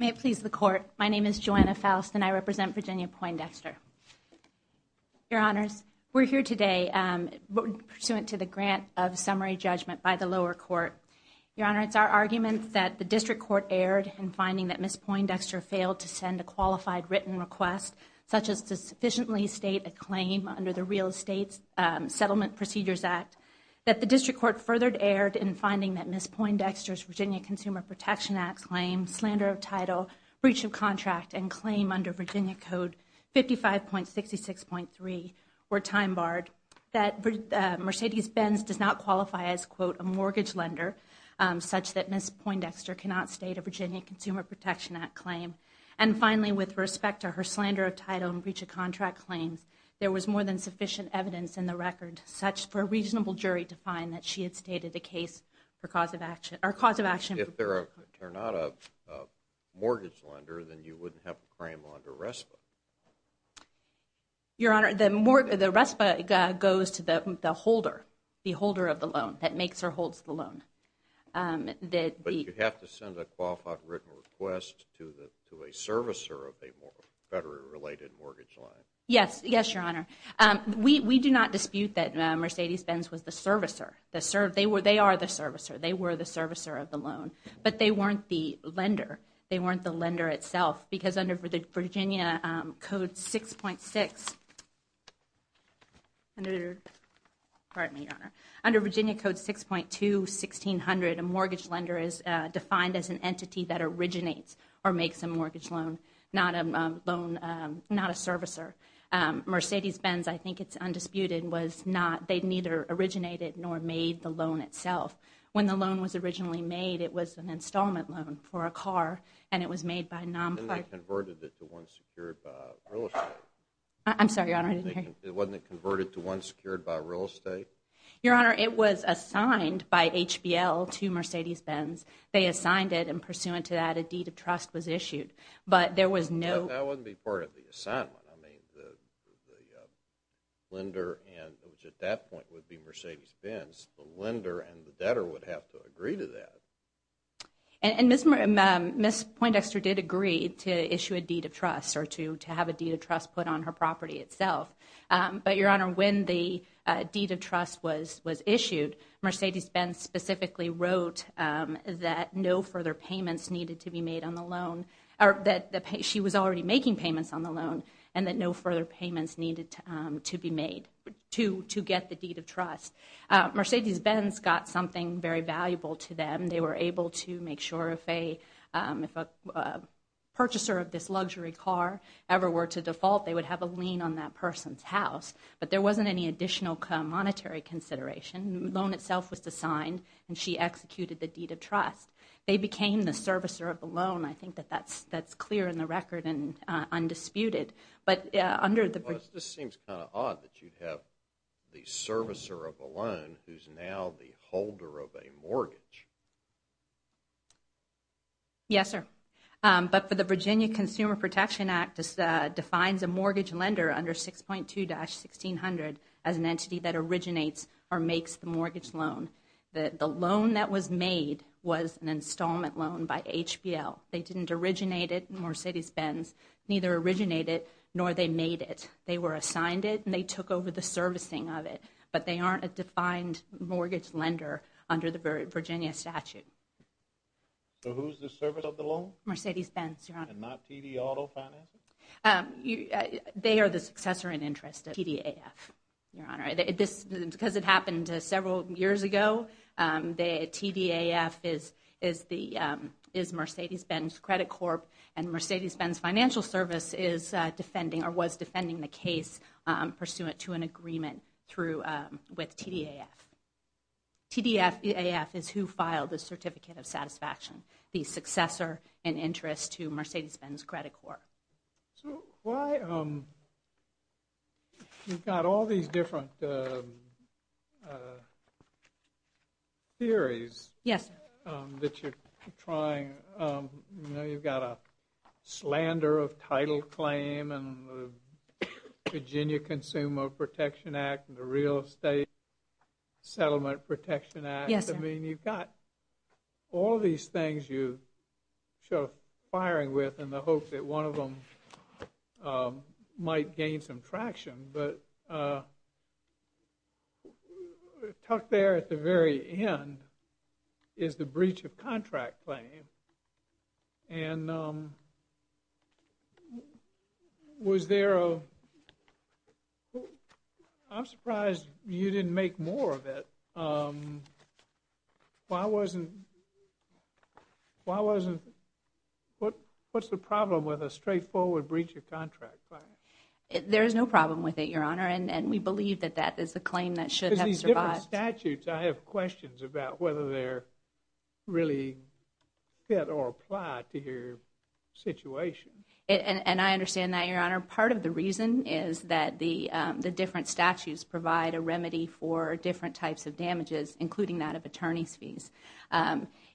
May it please the Court, my name is Joanna Faust and I represent Virginia Poindexter. Your Honors, we're here today pursuant to the grant of summary judgment by the lower court. Your Honor, it's our argument that the District Court erred in finding that Ms. Poindexter failed to send a qualified written request, such as to sufficiently state a claim under the Real Estate Settlement Procedures Act, that the District Court furthered erred in finding that Ms. Poindexter's slander of title, breach of contract, and claim under Virginia Code 55.66.3 were time-barred, that Mercedes-Benz does not qualify as, quote, a mortgage lender, such that Ms. Poindexter cannot state a Virginia Consumer Protection Act claim. And finally, with respect to her slander of title and breach of contract claims, there was more than sufficient evidence in the record for a reasonable jury to find that she stated a case for cause of action. If they're not a mortgage lender, then you wouldn't have a claim under RESPA. Your Honor, the RESPA goes to the holder, the holder of the loan that makes or holds the loan. But you have to send a qualified written request to a servicer of a federally related mortgage line. Yes, Your Honor. We do not dispute that Mercedes-Benz was the servicer, they are the servicer, they were the servicer of the loan. But they weren't the lender, they weren't the lender itself. Because under Virginia Code 6.6, pardon me, Your Honor, under Virginia Code 6.2-1600, a mortgage lender is defined as an entity that originates or makes a mortgage loan, not a loan, not a servicer. Mercedes-Benz, I think it's undisputed, was not, they neither originated nor made the loan itself. When the loan was originally made, it was an installment loan for a car, and it was made by a non-part... And they converted it to one secured by real estate. I'm sorry, Your Honor, I didn't hear you. Wasn't it converted to one secured by real estate? Your Honor, it was assigned by HBL to Mercedes-Benz. They assigned it and pursuant to that, a deed of trust was issued. But there was no... That wouldn't be part of the assignment. I mean, the lender and, which at that point would be Mercedes-Benz, the lender and the debtor would have to agree to that. And Ms. Poindexter did agree to issue a deed of trust or to have a deed of trust put on her property itself. But Your Honor, when the deed of trust was issued, Mercedes-Benz specifically wrote that no further payments needed to be made on the loan, or that she was already making payments on the loan, and that no further payments needed to be made to get the deed of trust. Mercedes-Benz got something very valuable to them. They were able to make sure if a purchaser of this luxury car ever were to default, they would have a lien on that person's house. But there wasn't any additional monetary consideration. The loan itself was designed, and she executed the deed of trust. They became the servicer of the loan. I think that that's clear in the record and undisputed. But under the... This seems kind of odd that you'd have the servicer of a loan who's now the holder of a mortgage. Yes, sir. But for the Virginia Consumer Protection Act defines a mortgage lender under 6.2-1600 as an entity that originates or makes the mortgage loan. The loan that was made was an installment loan by HBL. They didn't originate it. Mercedes-Benz neither originated nor they made it. They were assigned it, and they took over the servicing of it. But they aren't a defined mortgage lender under the Virginia statute. So who's the servicer of the loan? Mercedes-Benz, Your Honor. And not TD Auto Financing? They are the successor in interest of TDAF, Your Honor. Because it happened several years ago, TDAF is Mercedes-Benz Credit Corp. And Mercedes-Benz Financial Service is defending or was defending the case pursuant to an agreement with TDAF. TDAF is who filed the Certificate of Satisfaction, the successor in interest to Mercedes-Benz Credit Corp. So why you've got all these different theories that you're trying, you know, you've got a slander of title claim and the Virginia Consumer Protection Act and the Real Estate Settlement Protection Act. I mean, you've got all these things you show firing with in the hope that one of them might gain some traction. But tucked there at the very end is the breach of contract claim. And was there a, well, I'm surprised you didn't make more of it. Why wasn't, why wasn't, what's the problem with a straightforward breach of contract claim? There is no problem with it, Your Honor. And we believe that that is the claim that should have survived. Because these different statutes, I have questions about whether they're really fit or applied to your situation. And I understand that, Your Honor. Part of the reason is that the different statutes provide a remedy for different types of damages, including that of attorney's fees.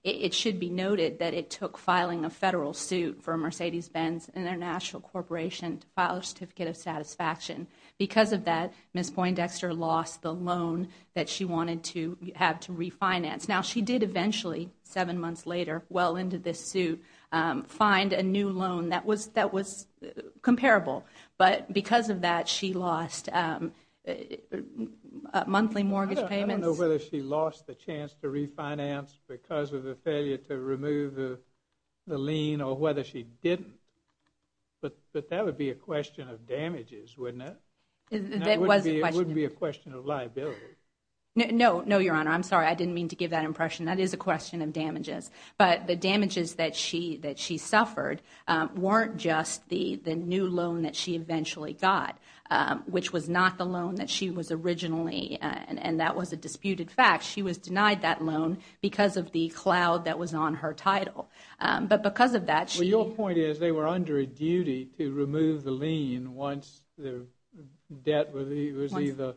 It should be noted that it took filing a federal suit for Mercedes-Benz International Corporation to file a Certificate of Satisfaction. Because of that, Ms. Poindexter lost the loan that she wanted to have to refinance. Now, she did eventually, seven months later, well into this suit, find a new loan that was comparable. But because of that, she lost monthly mortgage payments. I don't know whether she lost the chance to refinance because of a failure to remove the lien or whether she didn't. But that would be a question of damages, wouldn't it? It would be a question of liability. No, Your Honor. I'm sorry. I didn't mean to give that impression. That is a question of damages. But the damages that she suffered weren't just the new loan that she eventually got, which was not the loan that she was originally, and that was a disputed fact. She was denied that loan because of the cloud that was on her title. But because of that, she... Well, your point is they were under a duty to remove the lien once the debt was either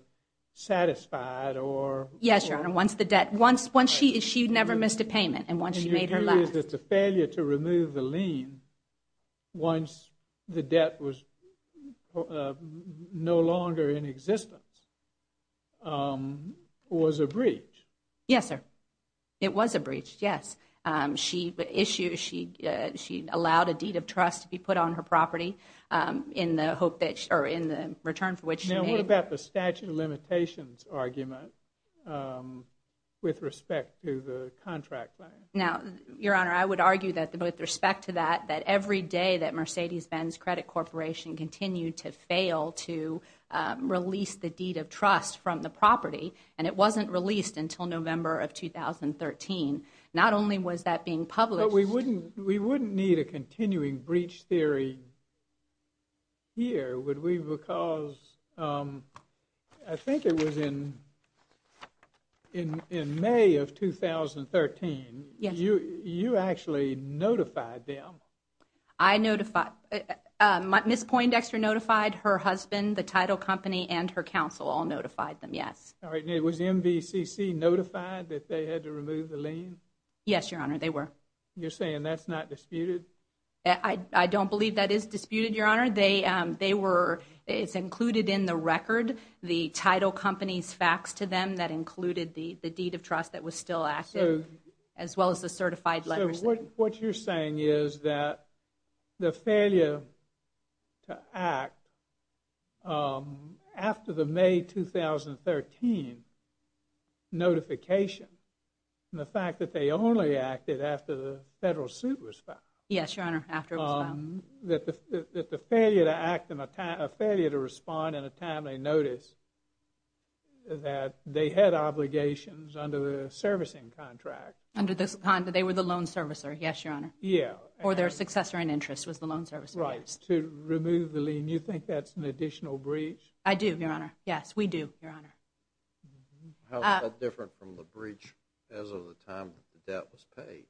satisfied or... Yes, Your Honor. Once the debt... Once she never missed a payment and once she made her last... And your view is that the failure to remove the lien once the debt was no longer in existence was a breach. Yes, sir. It was a breach, yes. She allowed a deed of trust to be put on her property in the hope that... Or in the return for which she made... Now, what about the statute of limitations argument with respect to the contract? Now, Your Honor, I would argue that with respect to that, that every day that Mercedes-Benz Credit Corporation continued to fail to release the deed of trust from the property, and it wasn't released until November of 2013, not only was that being published... But we wouldn't need a continuing breach theory here, would we? Because I think it was in May of 2013, you actually notified them. I notified... Ms. Poindexter notified her husband, the title company, and her counsel all notified them, yes. All right. Was MVCC notified that they had to remove the lien? Yes, Your Honor, they were. You're saying that's not disputed? I don't believe that is disputed, Your Honor. They were... It's included in the record, the title company's facts to them, that included the deed of trust that was still active, as well as the certified What you're saying is that the failure to act after the May 2013 notification, and the fact that they only acted after the federal suit was filed... Yes, Your Honor, after it was filed. That the failure to act and a failure to respond in a timely notice, that they had Yes, Your Honor. Yeah. Or their successor in interest was the loan servicer. Right. To remove the lien, you think that's an additional breach? I do, Your Honor. Yes, we do, Your Honor. How is that different from the breach as of the time that the debt was paid?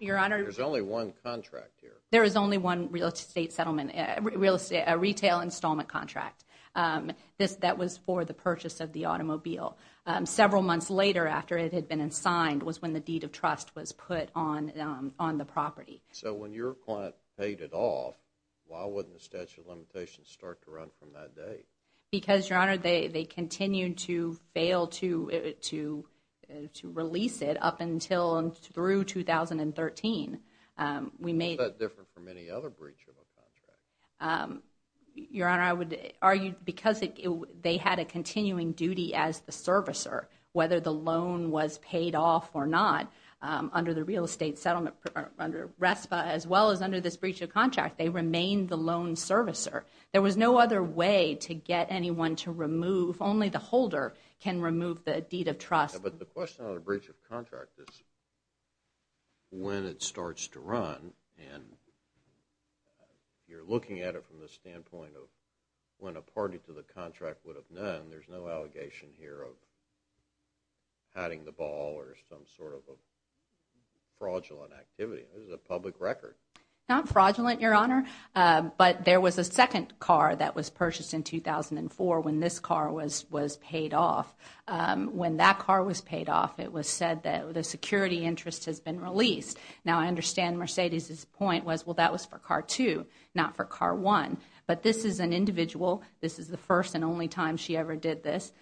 Your Honor... There's only one contract here. There is only one real estate settlement, a retail installment contract, that was for the purchase of the automobile. Several months later, after it had been signed, was when the deed of trust was put on the property. So when your client paid it off, why wouldn't the statute of limitations start to run from that day? Because, Your Honor, they continued to fail to release it up until and through 2013. We made... How is that different from any other breach of a contract? Your Honor, I would argue because they had a continuing duty as the servicer, whether the loan was paid off or not, under the real estate settlement under RESPA, as well as under this breach of contract, they remained the loan servicer. There was no other way to get anyone to remove... Only the holder can remove the deed of trust. But the question on the breach of contract is when it starts to run, and you're looking at it from the standpoint of when a party to the contract would have done, there's no allegation here of padding the ball or some sort of a fraudulent activity. This is a public record. Not fraudulent, Your Honor, but there was a second car that was purchased in 2004 when this car was paid off. When that car was paid off, it was said that the security interest has been released. Now, I understand Mercedes's point was, well, that was for car two, not for car one. But this is an individual. This is the first and only time she ever did this.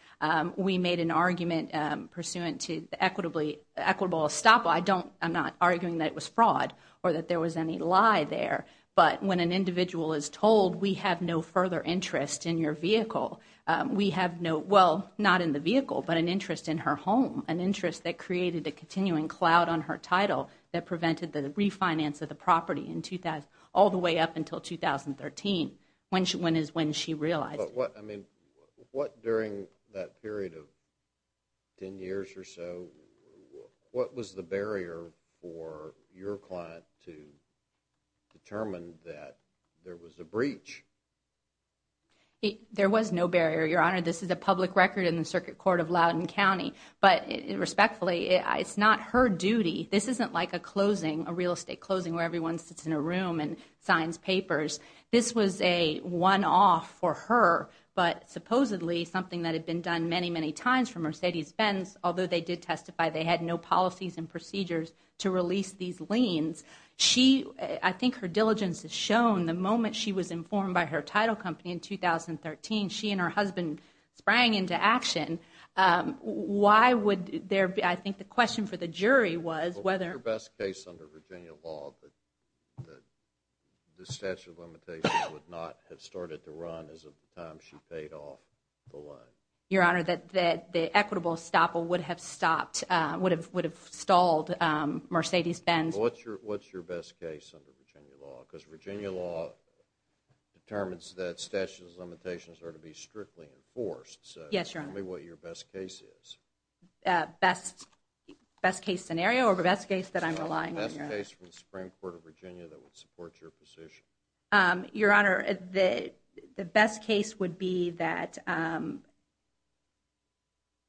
We made an argument pursuant to the equitable estoppel. I'm not arguing that it was fraud or that there was any lie there. But when an individual is told, we have no further interest in your vehicle, we have no... Well, not in the vehicle, but an a continuing cloud on her title that prevented the refinance of the property in 2000, all the way up until 2013, when is when she realized. But what, I mean, what during that period of 10 years or so, what was the barrier for your client to determine that there was a breach? There was no barrier, Your Honor. This is a public record in the Circuit Court of Loudoun County. But respectfully, it's not her duty. This isn't like a closing, a real estate closing, where everyone sits in a room and signs papers. This was a one-off for her, but supposedly something that had been done many, many times for Mercedes-Benz, although they did testify they had no policies and procedures to release these liens. I think her diligence has shown the moment she was there. I think the question for the jury was whether... What's your best case under Virginia law that the statute of limitations would not have started to run as of the time she paid off the loan? Your Honor, that the equitable estoppel would have stopped, would have stalled Mercedes-Benz. What's your best case under Virginia law? Because Virginia law determines that statutes of limitations are to be strictly enforced. Yes, Your Honor. Tell me what your best case is. Best case scenario or best case that I'm relying on, Your Honor? Best case from the Supreme Court of Virginia that would support your position. Your Honor, the best case would be that,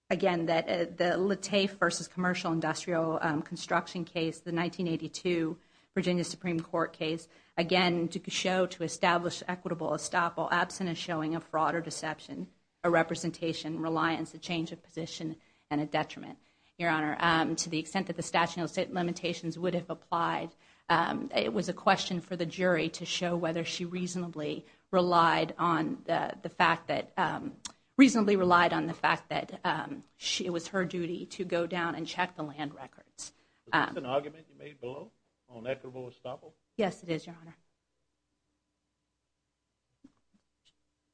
again, the Latafe v. Commercial Industrial Construction case, the 1982 Virginia Supreme Court case. Again, to show, to establish equitable estoppel absent of showing a fraud or change of position and a detriment. Your Honor, to the extent that the statute of limitations would have applied, it was a question for the jury to show whether she reasonably relied on the fact that... Reasonably relied on the fact that it was her duty to go down and check the land records. Is this an argument you made below on equitable estoppel? Yes, it is, Your Honor.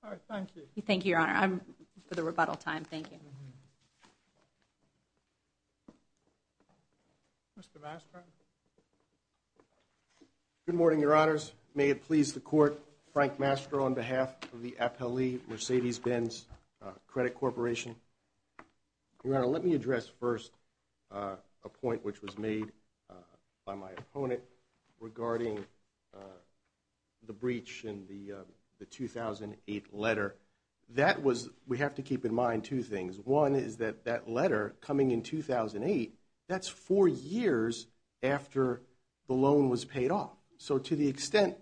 All right. Thank you. Thank you, Your Honor. I'm for the rebuttal time. Thank you. Mr. Mastro. Good morning, Your Honors. May it please the Court, Frank Mastro on behalf of the appellee Mercedes-Benz Credit Corporation. Your Honor, let me address first a point which was made by my opponent regarding the breach in the 2008 letter. That was... We have to keep in mind two things. One is that that letter coming in 2008, that's four years after the loan was paid off. So to the extent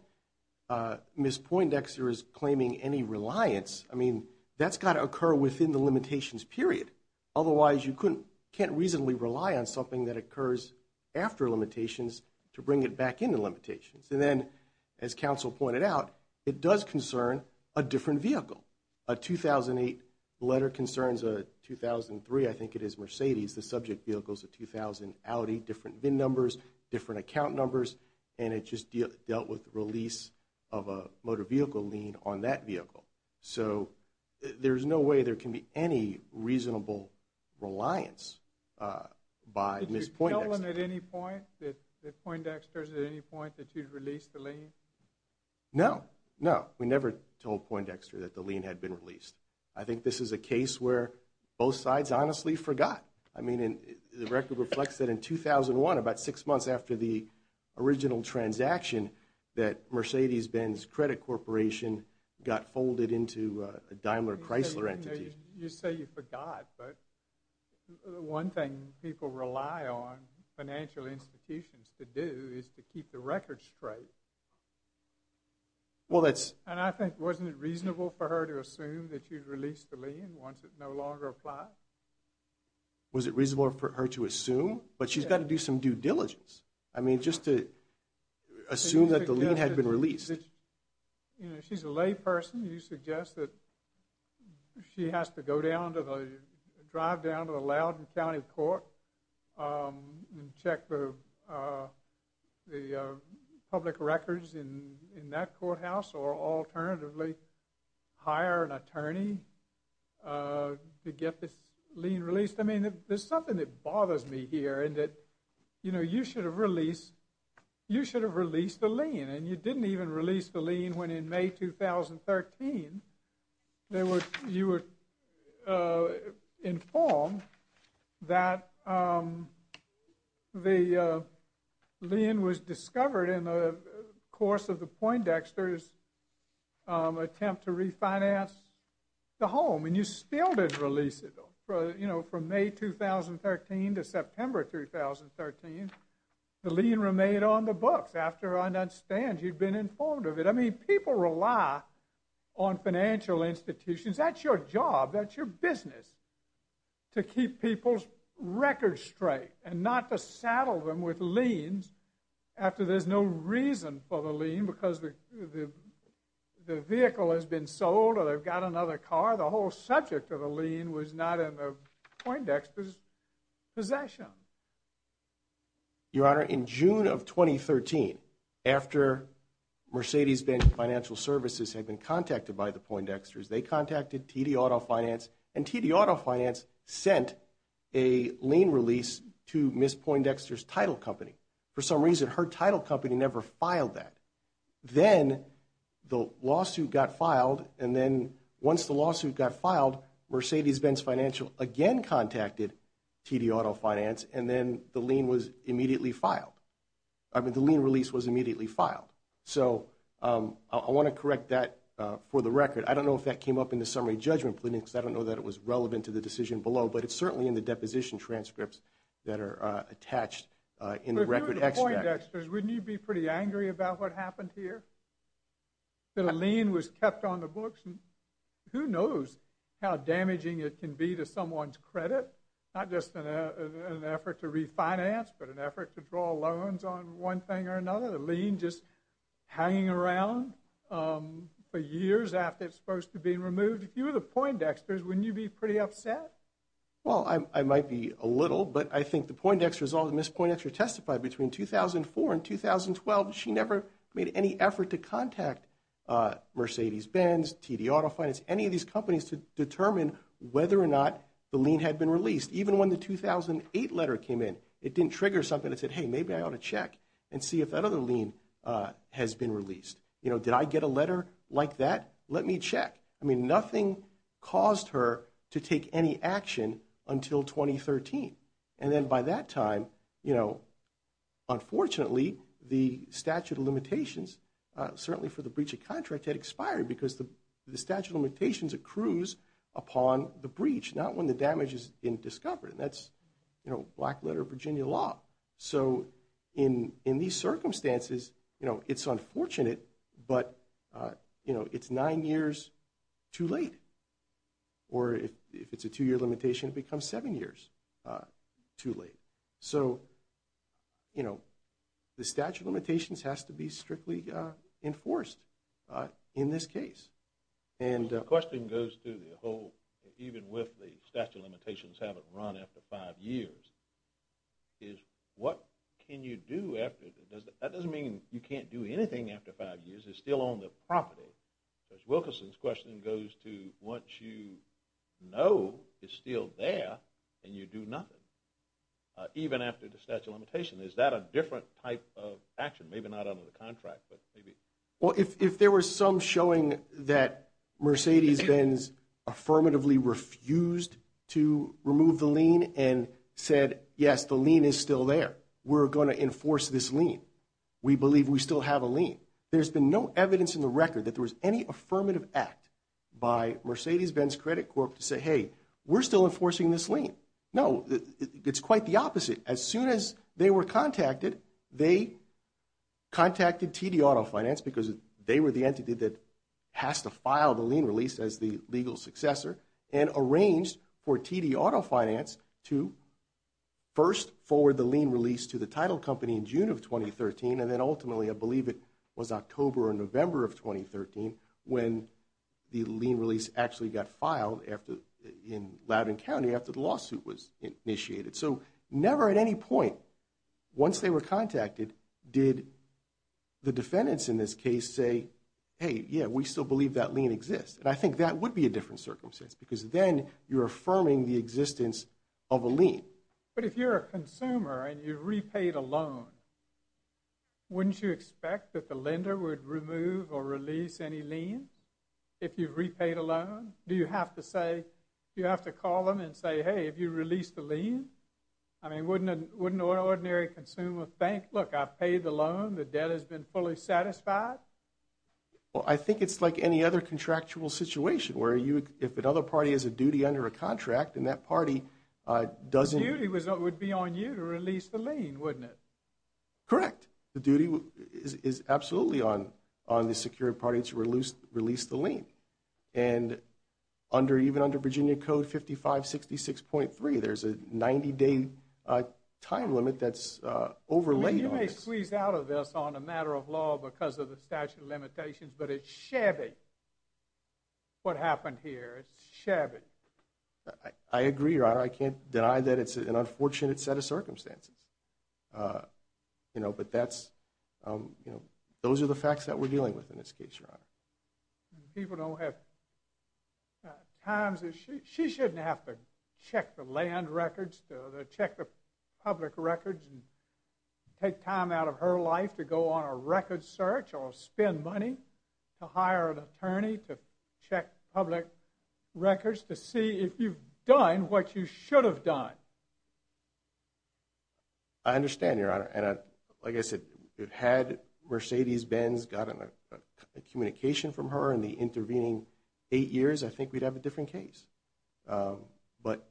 Ms. Poindexter is claiming any reliance, I mean, that's got to occur within the limitations period. Otherwise, you can't reasonably rely on something that occurs after limitations to bring it back into limitations. And then, as counsel pointed out, it does concern a different vehicle. A 2008 letter concerns a 2003, I think it is, Mercedes, the subject vehicles, a 2000 Audi, different VIN numbers, different account numbers, and it just dealt with the So there's no way there can be any reasonable reliance by Ms. Poindexter. Did you tell them at any point, that Poindexter's at any point that you'd released the lien? No, no. We never told Poindexter that the lien had been released. I think this is a case where both sides honestly forgot. I mean, the record reflects that in 2001, about six months after the original transaction, that Mercedes-Benz Credit Corporation got folded into a Daimler Chrysler entity. You say you forgot, but one thing people rely on financial institutions to do is to keep the record straight. And I think, wasn't it reasonable for her to assume that you'd released the lien once it no longer applied? Was it reasonable for her to assume? But she's got to do some diligence. I mean, just to assume that the lien had been released. You know, she's a lay person. You suggest that she has to go down to the, drive down to the Loudoun County Court and check the public records in that courthouse, or alternatively, hire an attorney to get this done. It bothers me here in that, you know, you should have released, you should have released the lien. And you didn't even release the lien when in May 2013, you were informed that the lien was discovered in the course of the Poindexter's attempt to refinance the home. And you still didn't release it, though. You know, from May 2013 to September 2013, the lien remained on the books after I understand you'd been informed of it. I mean, people rely on financial institutions. That's your job, that's your business, to keep people's records straight and not to saddle them with liens after there's no reason for the lien because the vehicle has been sold or they've got another car. The whole subject of the lien was not in the Poindexter's possession. Your Honor, in June of 2013, after Mercedes-Benz Financial Services had been contacted by the Poindexters, they contacted TD Auto Finance and TD Auto Finance sent a lien release to Ms. Poindexter's title company. For some reason, her title company never filed that. Then the lawsuit got filed, and then once the lawsuit got filed, Mercedes-Benz Financial again contacted TD Auto Finance, and then the lien was immediately filed. I mean, the lien release was immediately filed. So I want to correct that for the record. I don't know if that came up in the summary judgment plea, because I don't know that it was relevant to the decision below, but it's certainly in the deposition transcripts that are attached in the record extract. If you were the Poindexters, wouldn't you be pretty angry about what happened here? The lien was kept on the books, and who knows how damaging it can be to someone's credit? Not just an effort to refinance, but an effort to draw loans on one thing or another. The lien just hanging around for years after it's supposed to be removed. If you were the Poindexters, wouldn't you be pretty upset? Well, I might be a little, but I think the Poindexters, Ms. Poindexter testified between 2004 and 2012, she never made any effort to contact Mercedes-Benz, TD Auto Finance, any of these companies to determine whether or not the lien had been released. Even when the 2008 letter came in, it didn't trigger something that said, hey, maybe I ought to check and see if that other lien has been released. You know, did I get a letter like that? Let me check. I mean, nothing caused her to take any action until 2013. And then by that time, you know, unfortunately, the statute of limitations, certainly for the breach of contract, had expired because the statute of limitations accrues upon the breach, not when the damage has been discovered. And that's, you know, black letter of Virginia law. So in these circumstances, you know, it's unfortunate, but, you know, it's nine years too late. Or if it's a two-year limitation, it becomes seven years too late. So, you know, the statute of limitations has to be strictly enforced in this case. The question goes to the whole, even with the statute of limitations having run after five years, is what can you do after? That doesn't mean you can't do anything after five years. It's still on the property. Judge Wilkerson's question goes to once you know it's still there and you do nothing, even after the statute of limitation, is that a different type of action? Maybe not under the contract, but maybe. Well, if there was some showing that Mercedes-Benz affirmatively refused to remove the lien and said, yes, the lien is still there, we're going to enforce this lien. We believe we still have a lien. There's been no evidence in the record that there was any affirmative act by Mercedes-Benz Credit Corp to say, hey, we're still enforcing this lien. No, it's quite the opposite. As soon as they were contacted, they contacted TD Auto Finance because they were the entity that has to file the lien release as the legal successor and arranged for TD Auto Finance to first forward the lien release to the title company in June of 2013, and then ultimately, I believe it was October or November of 2013, when the lien release actually got filed in Loudoun County after the lawsuit was initiated. So never at any point, once they were contacted, did the defendants in this case say, hey, yeah, we still believe that lien exists. And I think that would be a different circumstance, because then you're affirming the existence of a lien. But if you're a consumer and you've repaid a loan, wouldn't you expect that the lender would remove or release any lien if you've repaid a loan? Do you have to say, you have to call them and say, hey, have you released the lien? I mean, wouldn't an ordinary consumer think, look, I've paid the loan, the debt has been fully satisfied? Well, I think it's like any other contractual situation where if another party has a duty under a contract and that party doesn't... The duty would be on you to release the lien, wouldn't it? Correct. The duty is absolutely on the security party to release the lien. And even under Virginia Code 5566.3, there's a 90-day time limit that's overlaid on this. I mean, you may squeeze out of this on a matter of law because of the statute of limitations, but it's shabby what happened here. It's shabby. I agree, Your Honor. I can't deny that it's an unfortunate set of circumstances. But those are the facts that we're dealing with in this case, Your Honor. People don't have times... She shouldn't have to check the land records to check the public records and take time out of her life to go on a record search or spend money to hire an attorney to check public records to see if you've done what you should have done. I understand, Your Honor. And like I said, had Mercedes Benz gotten a communication from her in the intervening eight years, I think we'd have a different case. But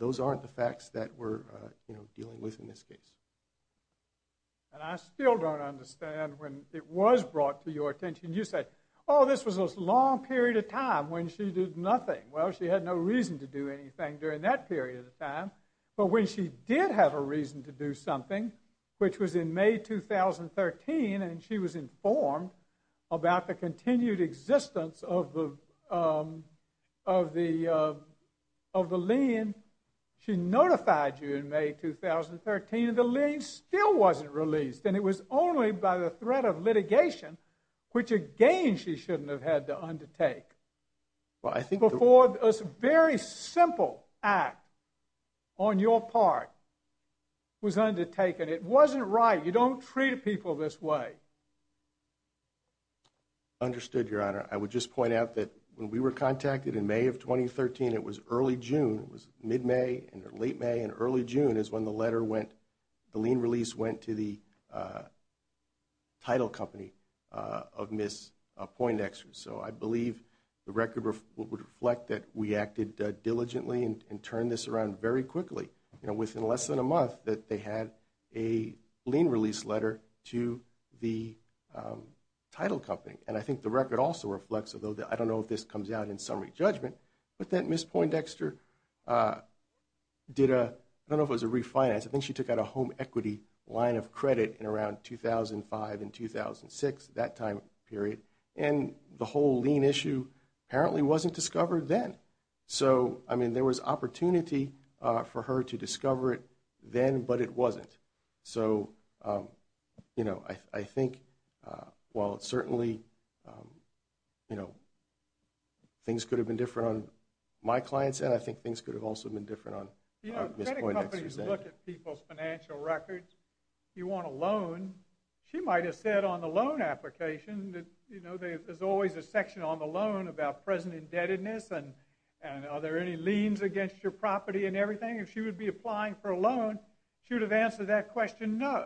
those aren't the facts that we're dealing with in this case. And I still don't understand when it was brought to your attention, you said, oh, this was a long period of time when she did nothing. Well, she had no reason to do anything during that period of time. But when she did have a reason to do something, which was in May 2013, and she was informed about the continued existence of the lien, she notified you in May 2013, and the lien still wasn't released. And it was only by the threat of litigation, which again, she shouldn't have had to undertake. Well, I think before this very simple act on your part was undertaken, it wasn't right. You don't treat people this way. Understood, Your Honor. I would just point out that when we were contacted in May of 2013, it was early June, it was mid-May and late May and early June is when the letter would reflect that we acted diligently and turned this around very quickly. Within less than a month that they had a lien release letter to the title company. And I think the record also reflects, although I don't know if this comes out in summary judgment, but that Ms. Poindexter did a, I don't know if it was a refinance, I think she took out a home equity line of credit in around 2005 and 2006, that time period. And the whole lien issue apparently wasn't discovered then. So, I mean, there was opportunity for her to discover it then, but it wasn't. So, you know, I think while it's certainly, you know, things could have been different on my client's end, I think things could have also been different on Ms. Poindexter's end. When you look at people's financial records, you want a loan, she might have said on the loan application that, you know, there's always a section on the loan about present indebtedness and are there any liens against your property and everything. If she would be applying for a loan, she would have answered that question, no.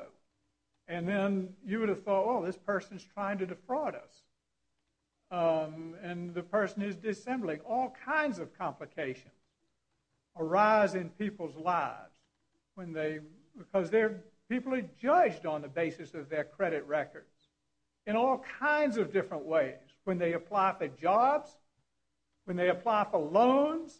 And then you would have thought, oh, this person's trying to defraud us. And the person is dissembling. All kinds of complications arise in people's lives when they, because they're, people are judged on the basis of their credit records in all kinds of different ways. When they apply for jobs, when they apply for loans,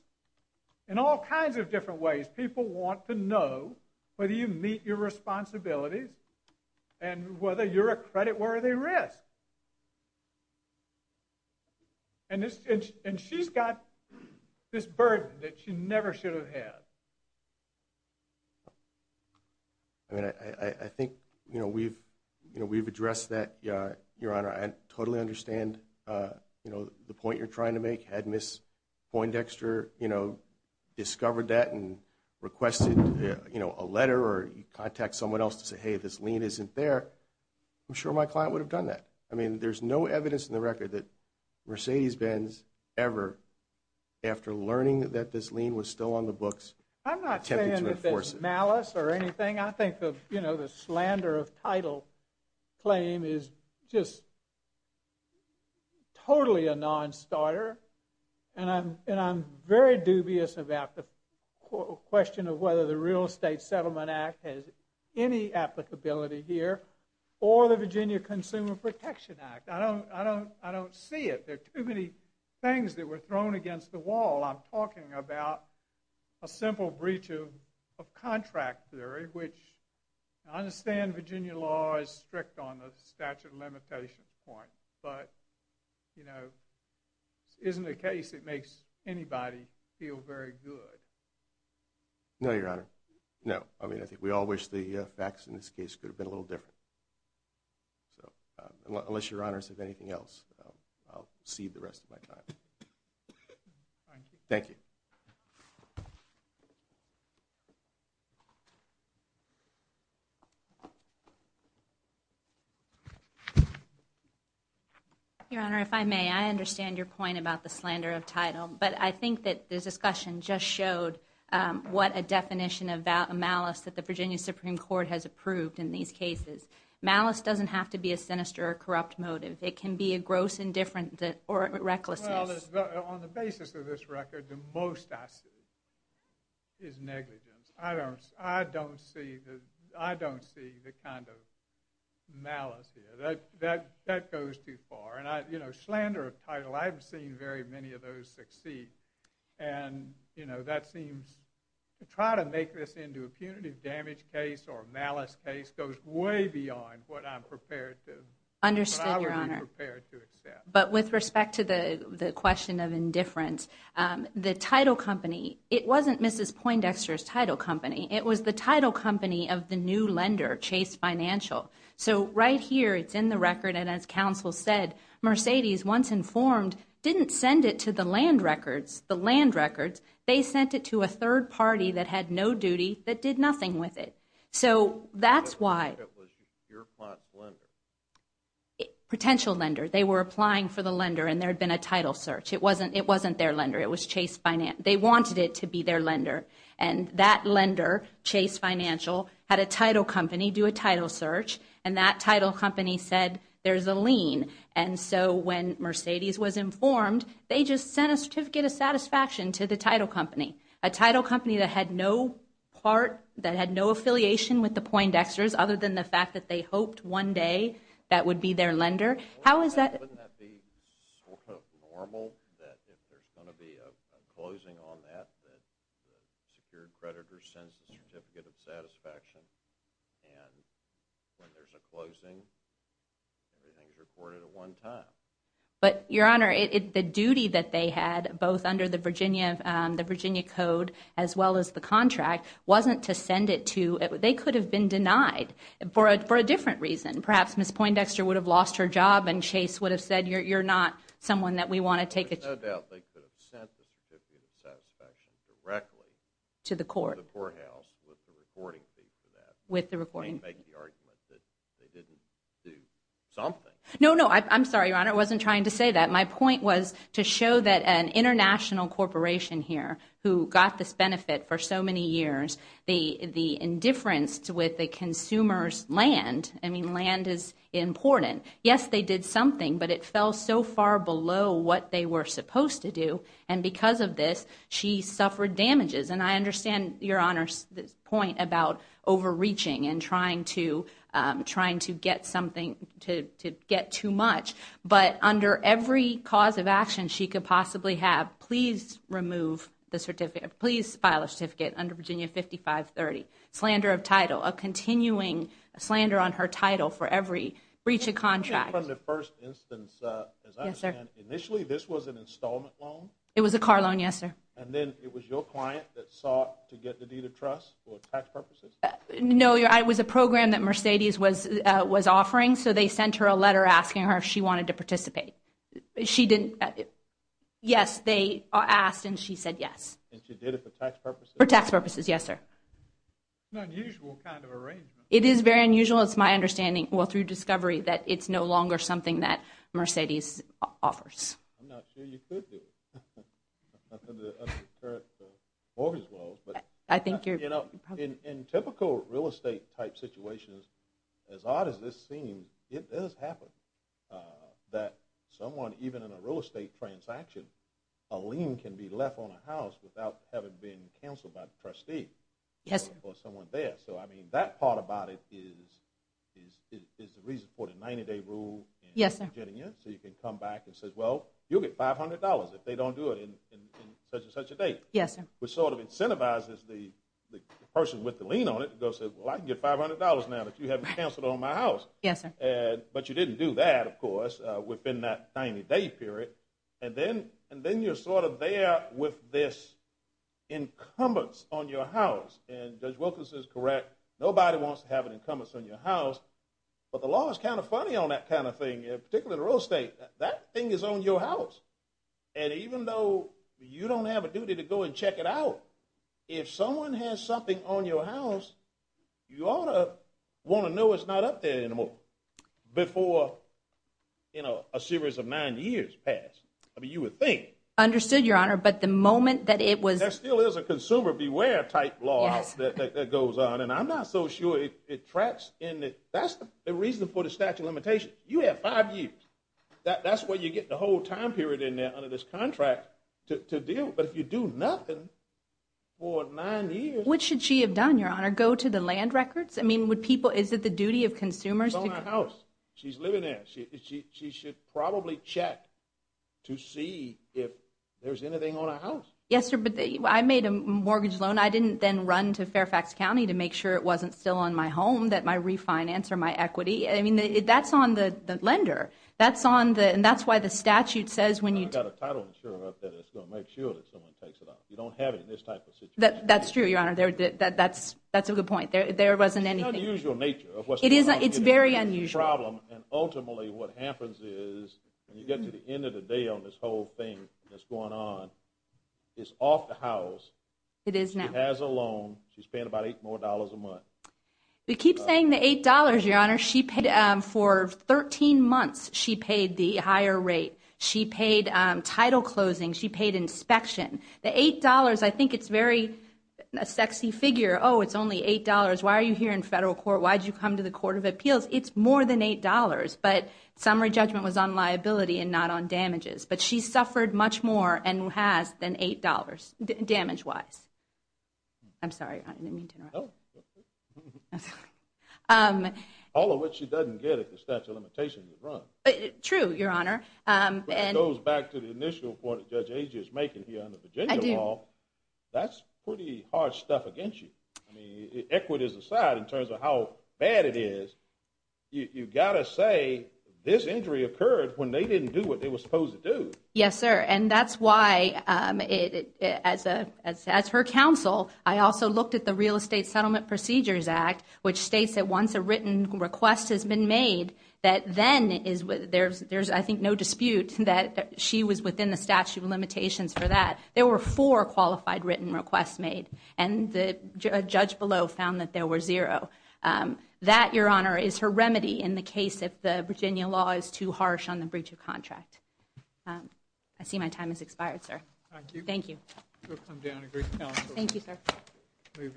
in all kinds of different ways, people want to know whether you meet your responsibilities and whether you're a creditworthy risk. And she's got this burden that she never should have had. I mean, I think, you know, we've, you know, we've addressed that, your Honor. I totally understand, you know, the point you're trying to make. Had Ms. Poindexter, you know, discovered that and requested, you know, a letter or contact someone else to say, hey, this lien isn't there, I'm sure my client would have done that. I mean, there's no evidence in the record that Mercedes-Benz ever, after learning that this lien was still on the books, attempted to enforce it. I'm not saying that it's malice or anything. I think, you know, the slander of title claim is just totally a non-starter. And I'm very dubious about the question of whether the Real Estate Settlement Act has any applicability here or the Virginia Consumer Protection Act. I don't see it. There are too many things that were thrown against the wall. I'm talking about a simple breach of contract theory, which I understand Virginia law is strict on the statute of limitations point. But, you know, it isn't a case that makes anybody feel very good. No, your Honor. No. I mean, I think we all wish the facts in this case could have been a little different. So, unless your Honors have anything else, I'll cede the rest of my time. Thank you. Your Honor, if I may, I understand your point about the slander of title. But I think that the discussion just showed what a definition of malice that the Virginia Supreme Court has approved in these cases. Malice doesn't have to be a sinister or corrupt motive. It can be a gross indifference or recklessness. Well, on the basis of this record, the most I see is negligence. I don't see the kind of malice here. That goes too far. And, you know, slander of title, I've seen very many of those succeed. And, you know, that seems to try to make this into a punitive damage case or malice case goes way beyond what I'm prepared to accept. Understood, your Honor. But with respect to the question of indifference, the title company, it wasn't Mrs. Poindexter's title company. It was the title company of the new lender, Chase Financial. So, right here, it's in the record. And as counsel said, Mercedes, once informed, didn't send it to the land records. The land records, they sent it to a third party that had no duty that did nothing with it. So, that's why. It was your client's lender. Potential lender. They were applying for the lender and there had been a title search. It wasn't their lender. It was Chase Finance. They wanted it to be their lender. And that lender, Chase Financial, had a title company do a title search. And that title company said, there's a lien. And so, when Mercedes was informed, they just sent a certificate of satisfaction to the title company, a title company that had no part, that had no affiliation with the Poindexters, other than the fact that they hoped one day that would be their lender. How is that? Wouldn't that be sort of normal that if there's going to be a closing on that, that the secured creditor sends a certificate of satisfaction? And when there's a closing, everything is recorded at one time. But, your Honor, the duty that they had, both under the Virginia Code, as well as the contract, wasn't to send it to, they could have been denied for a different reason. Perhaps Ms. Poindexter would have lost her job and Chase would have said, you're not someone that we want to take it to. There's no doubt they could have sent the certificate of satisfaction directly. To the court. To the courthouse with the recording fee for that. With the recording fee. They didn't make the argument that they didn't do something. No, no. I'm sorry, Your Honor. I wasn't trying to say that. My point was to show that an international corporation here who got this benefit for so many years, the indifference with the consumer's land, I mean, land is important. Yes, they did something, but it fell so far below what they were supposed to do. And because of this, she suffered damages. And I understand, Your Honor's point about overreaching and trying to get something, to get too much. But under every cause of action she could possibly have, please remove the certificate. Please file a certificate under Virginia 5530. Slander of title. A continuing slander on her title for every breach of contract. From the first instance, as I understand, initially this was an installment loan? It was a car loan, yes, sir. And then it was your client that sought to get the deed of trust for tax purposes? No, it was a program that Mercedes was offering. So they sent her a letter asking her if she wanted to participate. She didn't. Yes, they asked and she said yes. And she did it for tax purposes? For tax purposes, yes, sir. It's an unusual kind of arrangement. It is very unusual. It's my understanding, well, through discovery, that it's no longer something that Mercedes offers. I'm not sure you could do it. I think you're... In typical real estate type situations, as odd as this seems, it does happen that someone, even in a real estate transaction, a lien can be left on a house without having been canceled by the trustee or someone there. So I mean, that part about it is the reason for the 90-day rule in Virginia. So you can come back and say, well, you'll get $500 if they don't do it in such and such a date. Yes, sir. Which sort of incentivizes the person with the lien on it to go say, well, I can get $500 now that you haven't canceled on my house. Yes, sir. But you didn't do that, of course, within that 90-day period. And then you're sort of there with this incumbents on your house. And Judge Wilkins is correct. Nobody wants to have an incumbents on your house. But the law is kind of funny on that kind of thing, particularly in real estate. That thing is on your house. And even though you don't have a duty to go and check it out, if someone has something on your house, you ought to want to know it's not up there anymore before a series of nine years pass. I mean, you would think. Understood, Your Honor. But the moment that it was- There still is a consumer beware type law that goes on. And I'm not so sure it tracks in the- that's the reason for the statute of limitations. You have five years. That's you get the whole time period in there under this contract to deal. But if you do nothing for nine years- What should she have done, Your Honor? Go to the land records? I mean, would people- Is it the duty of consumers to- It's on her house. She's living there. She should probably check to see if there's anything on her house. Yes, sir. But I made a mortgage loan. I didn't then run to Fairfax County to make sure it wasn't still on my home, that my refinance or my equity. I mean, that's on the lender. That's on the- and that's why the statute says when you- I've got a title insurer up there that's going to make sure that someone takes it off. You don't have it in this type of situation. That's true, Your Honor. That's a good point. There wasn't anything- It's an unusual nature of what's going on here. It is. It's very unusual. It's a problem. And ultimately, what happens is, when you get to the end of the day on this whole thing that's going on, it's off the house. It is now. She has a loan. She's paying about eight more dollars a month. We keep saying the $8, Your Honor. She paid- for 13 months, she paid the higher rate. She paid title closing. She paid inspection. The $8, I think it's very- a sexy figure. Oh, it's only $8. Why are you here in federal court? Why did you come to the Court of Appeals? It's more than $8. But summary judgment was on liability and not on damages. But she suffered much more and has than $8, damage-wise. I'm sorry, Your Honor. I didn't mean to interrupt. No. All of which she doesn't get if the statute of limitations is run. True, Your Honor. That goes back to the initial point that Judge Agee is making here under Virginia law. That's pretty hard stuff against you. I mean, equities aside, in terms of how bad it is, you've got to say this injury occurred when they didn't do what they were supposed to do. Yes, sir. And that's why, as her counsel, I also looked at the Real Estate Settlement Procedures Act, which states that once a written request has been made, that then is- there's, I think, no dispute that she was within the statute of limitations for that. There were four qualified written requests made. And the judge below found that there were zero. That, Your Honor, is her remedy in the case if the Virginia law is too harsh on the breach of I see my time has expired, sir. Thank you. Thank you, sir.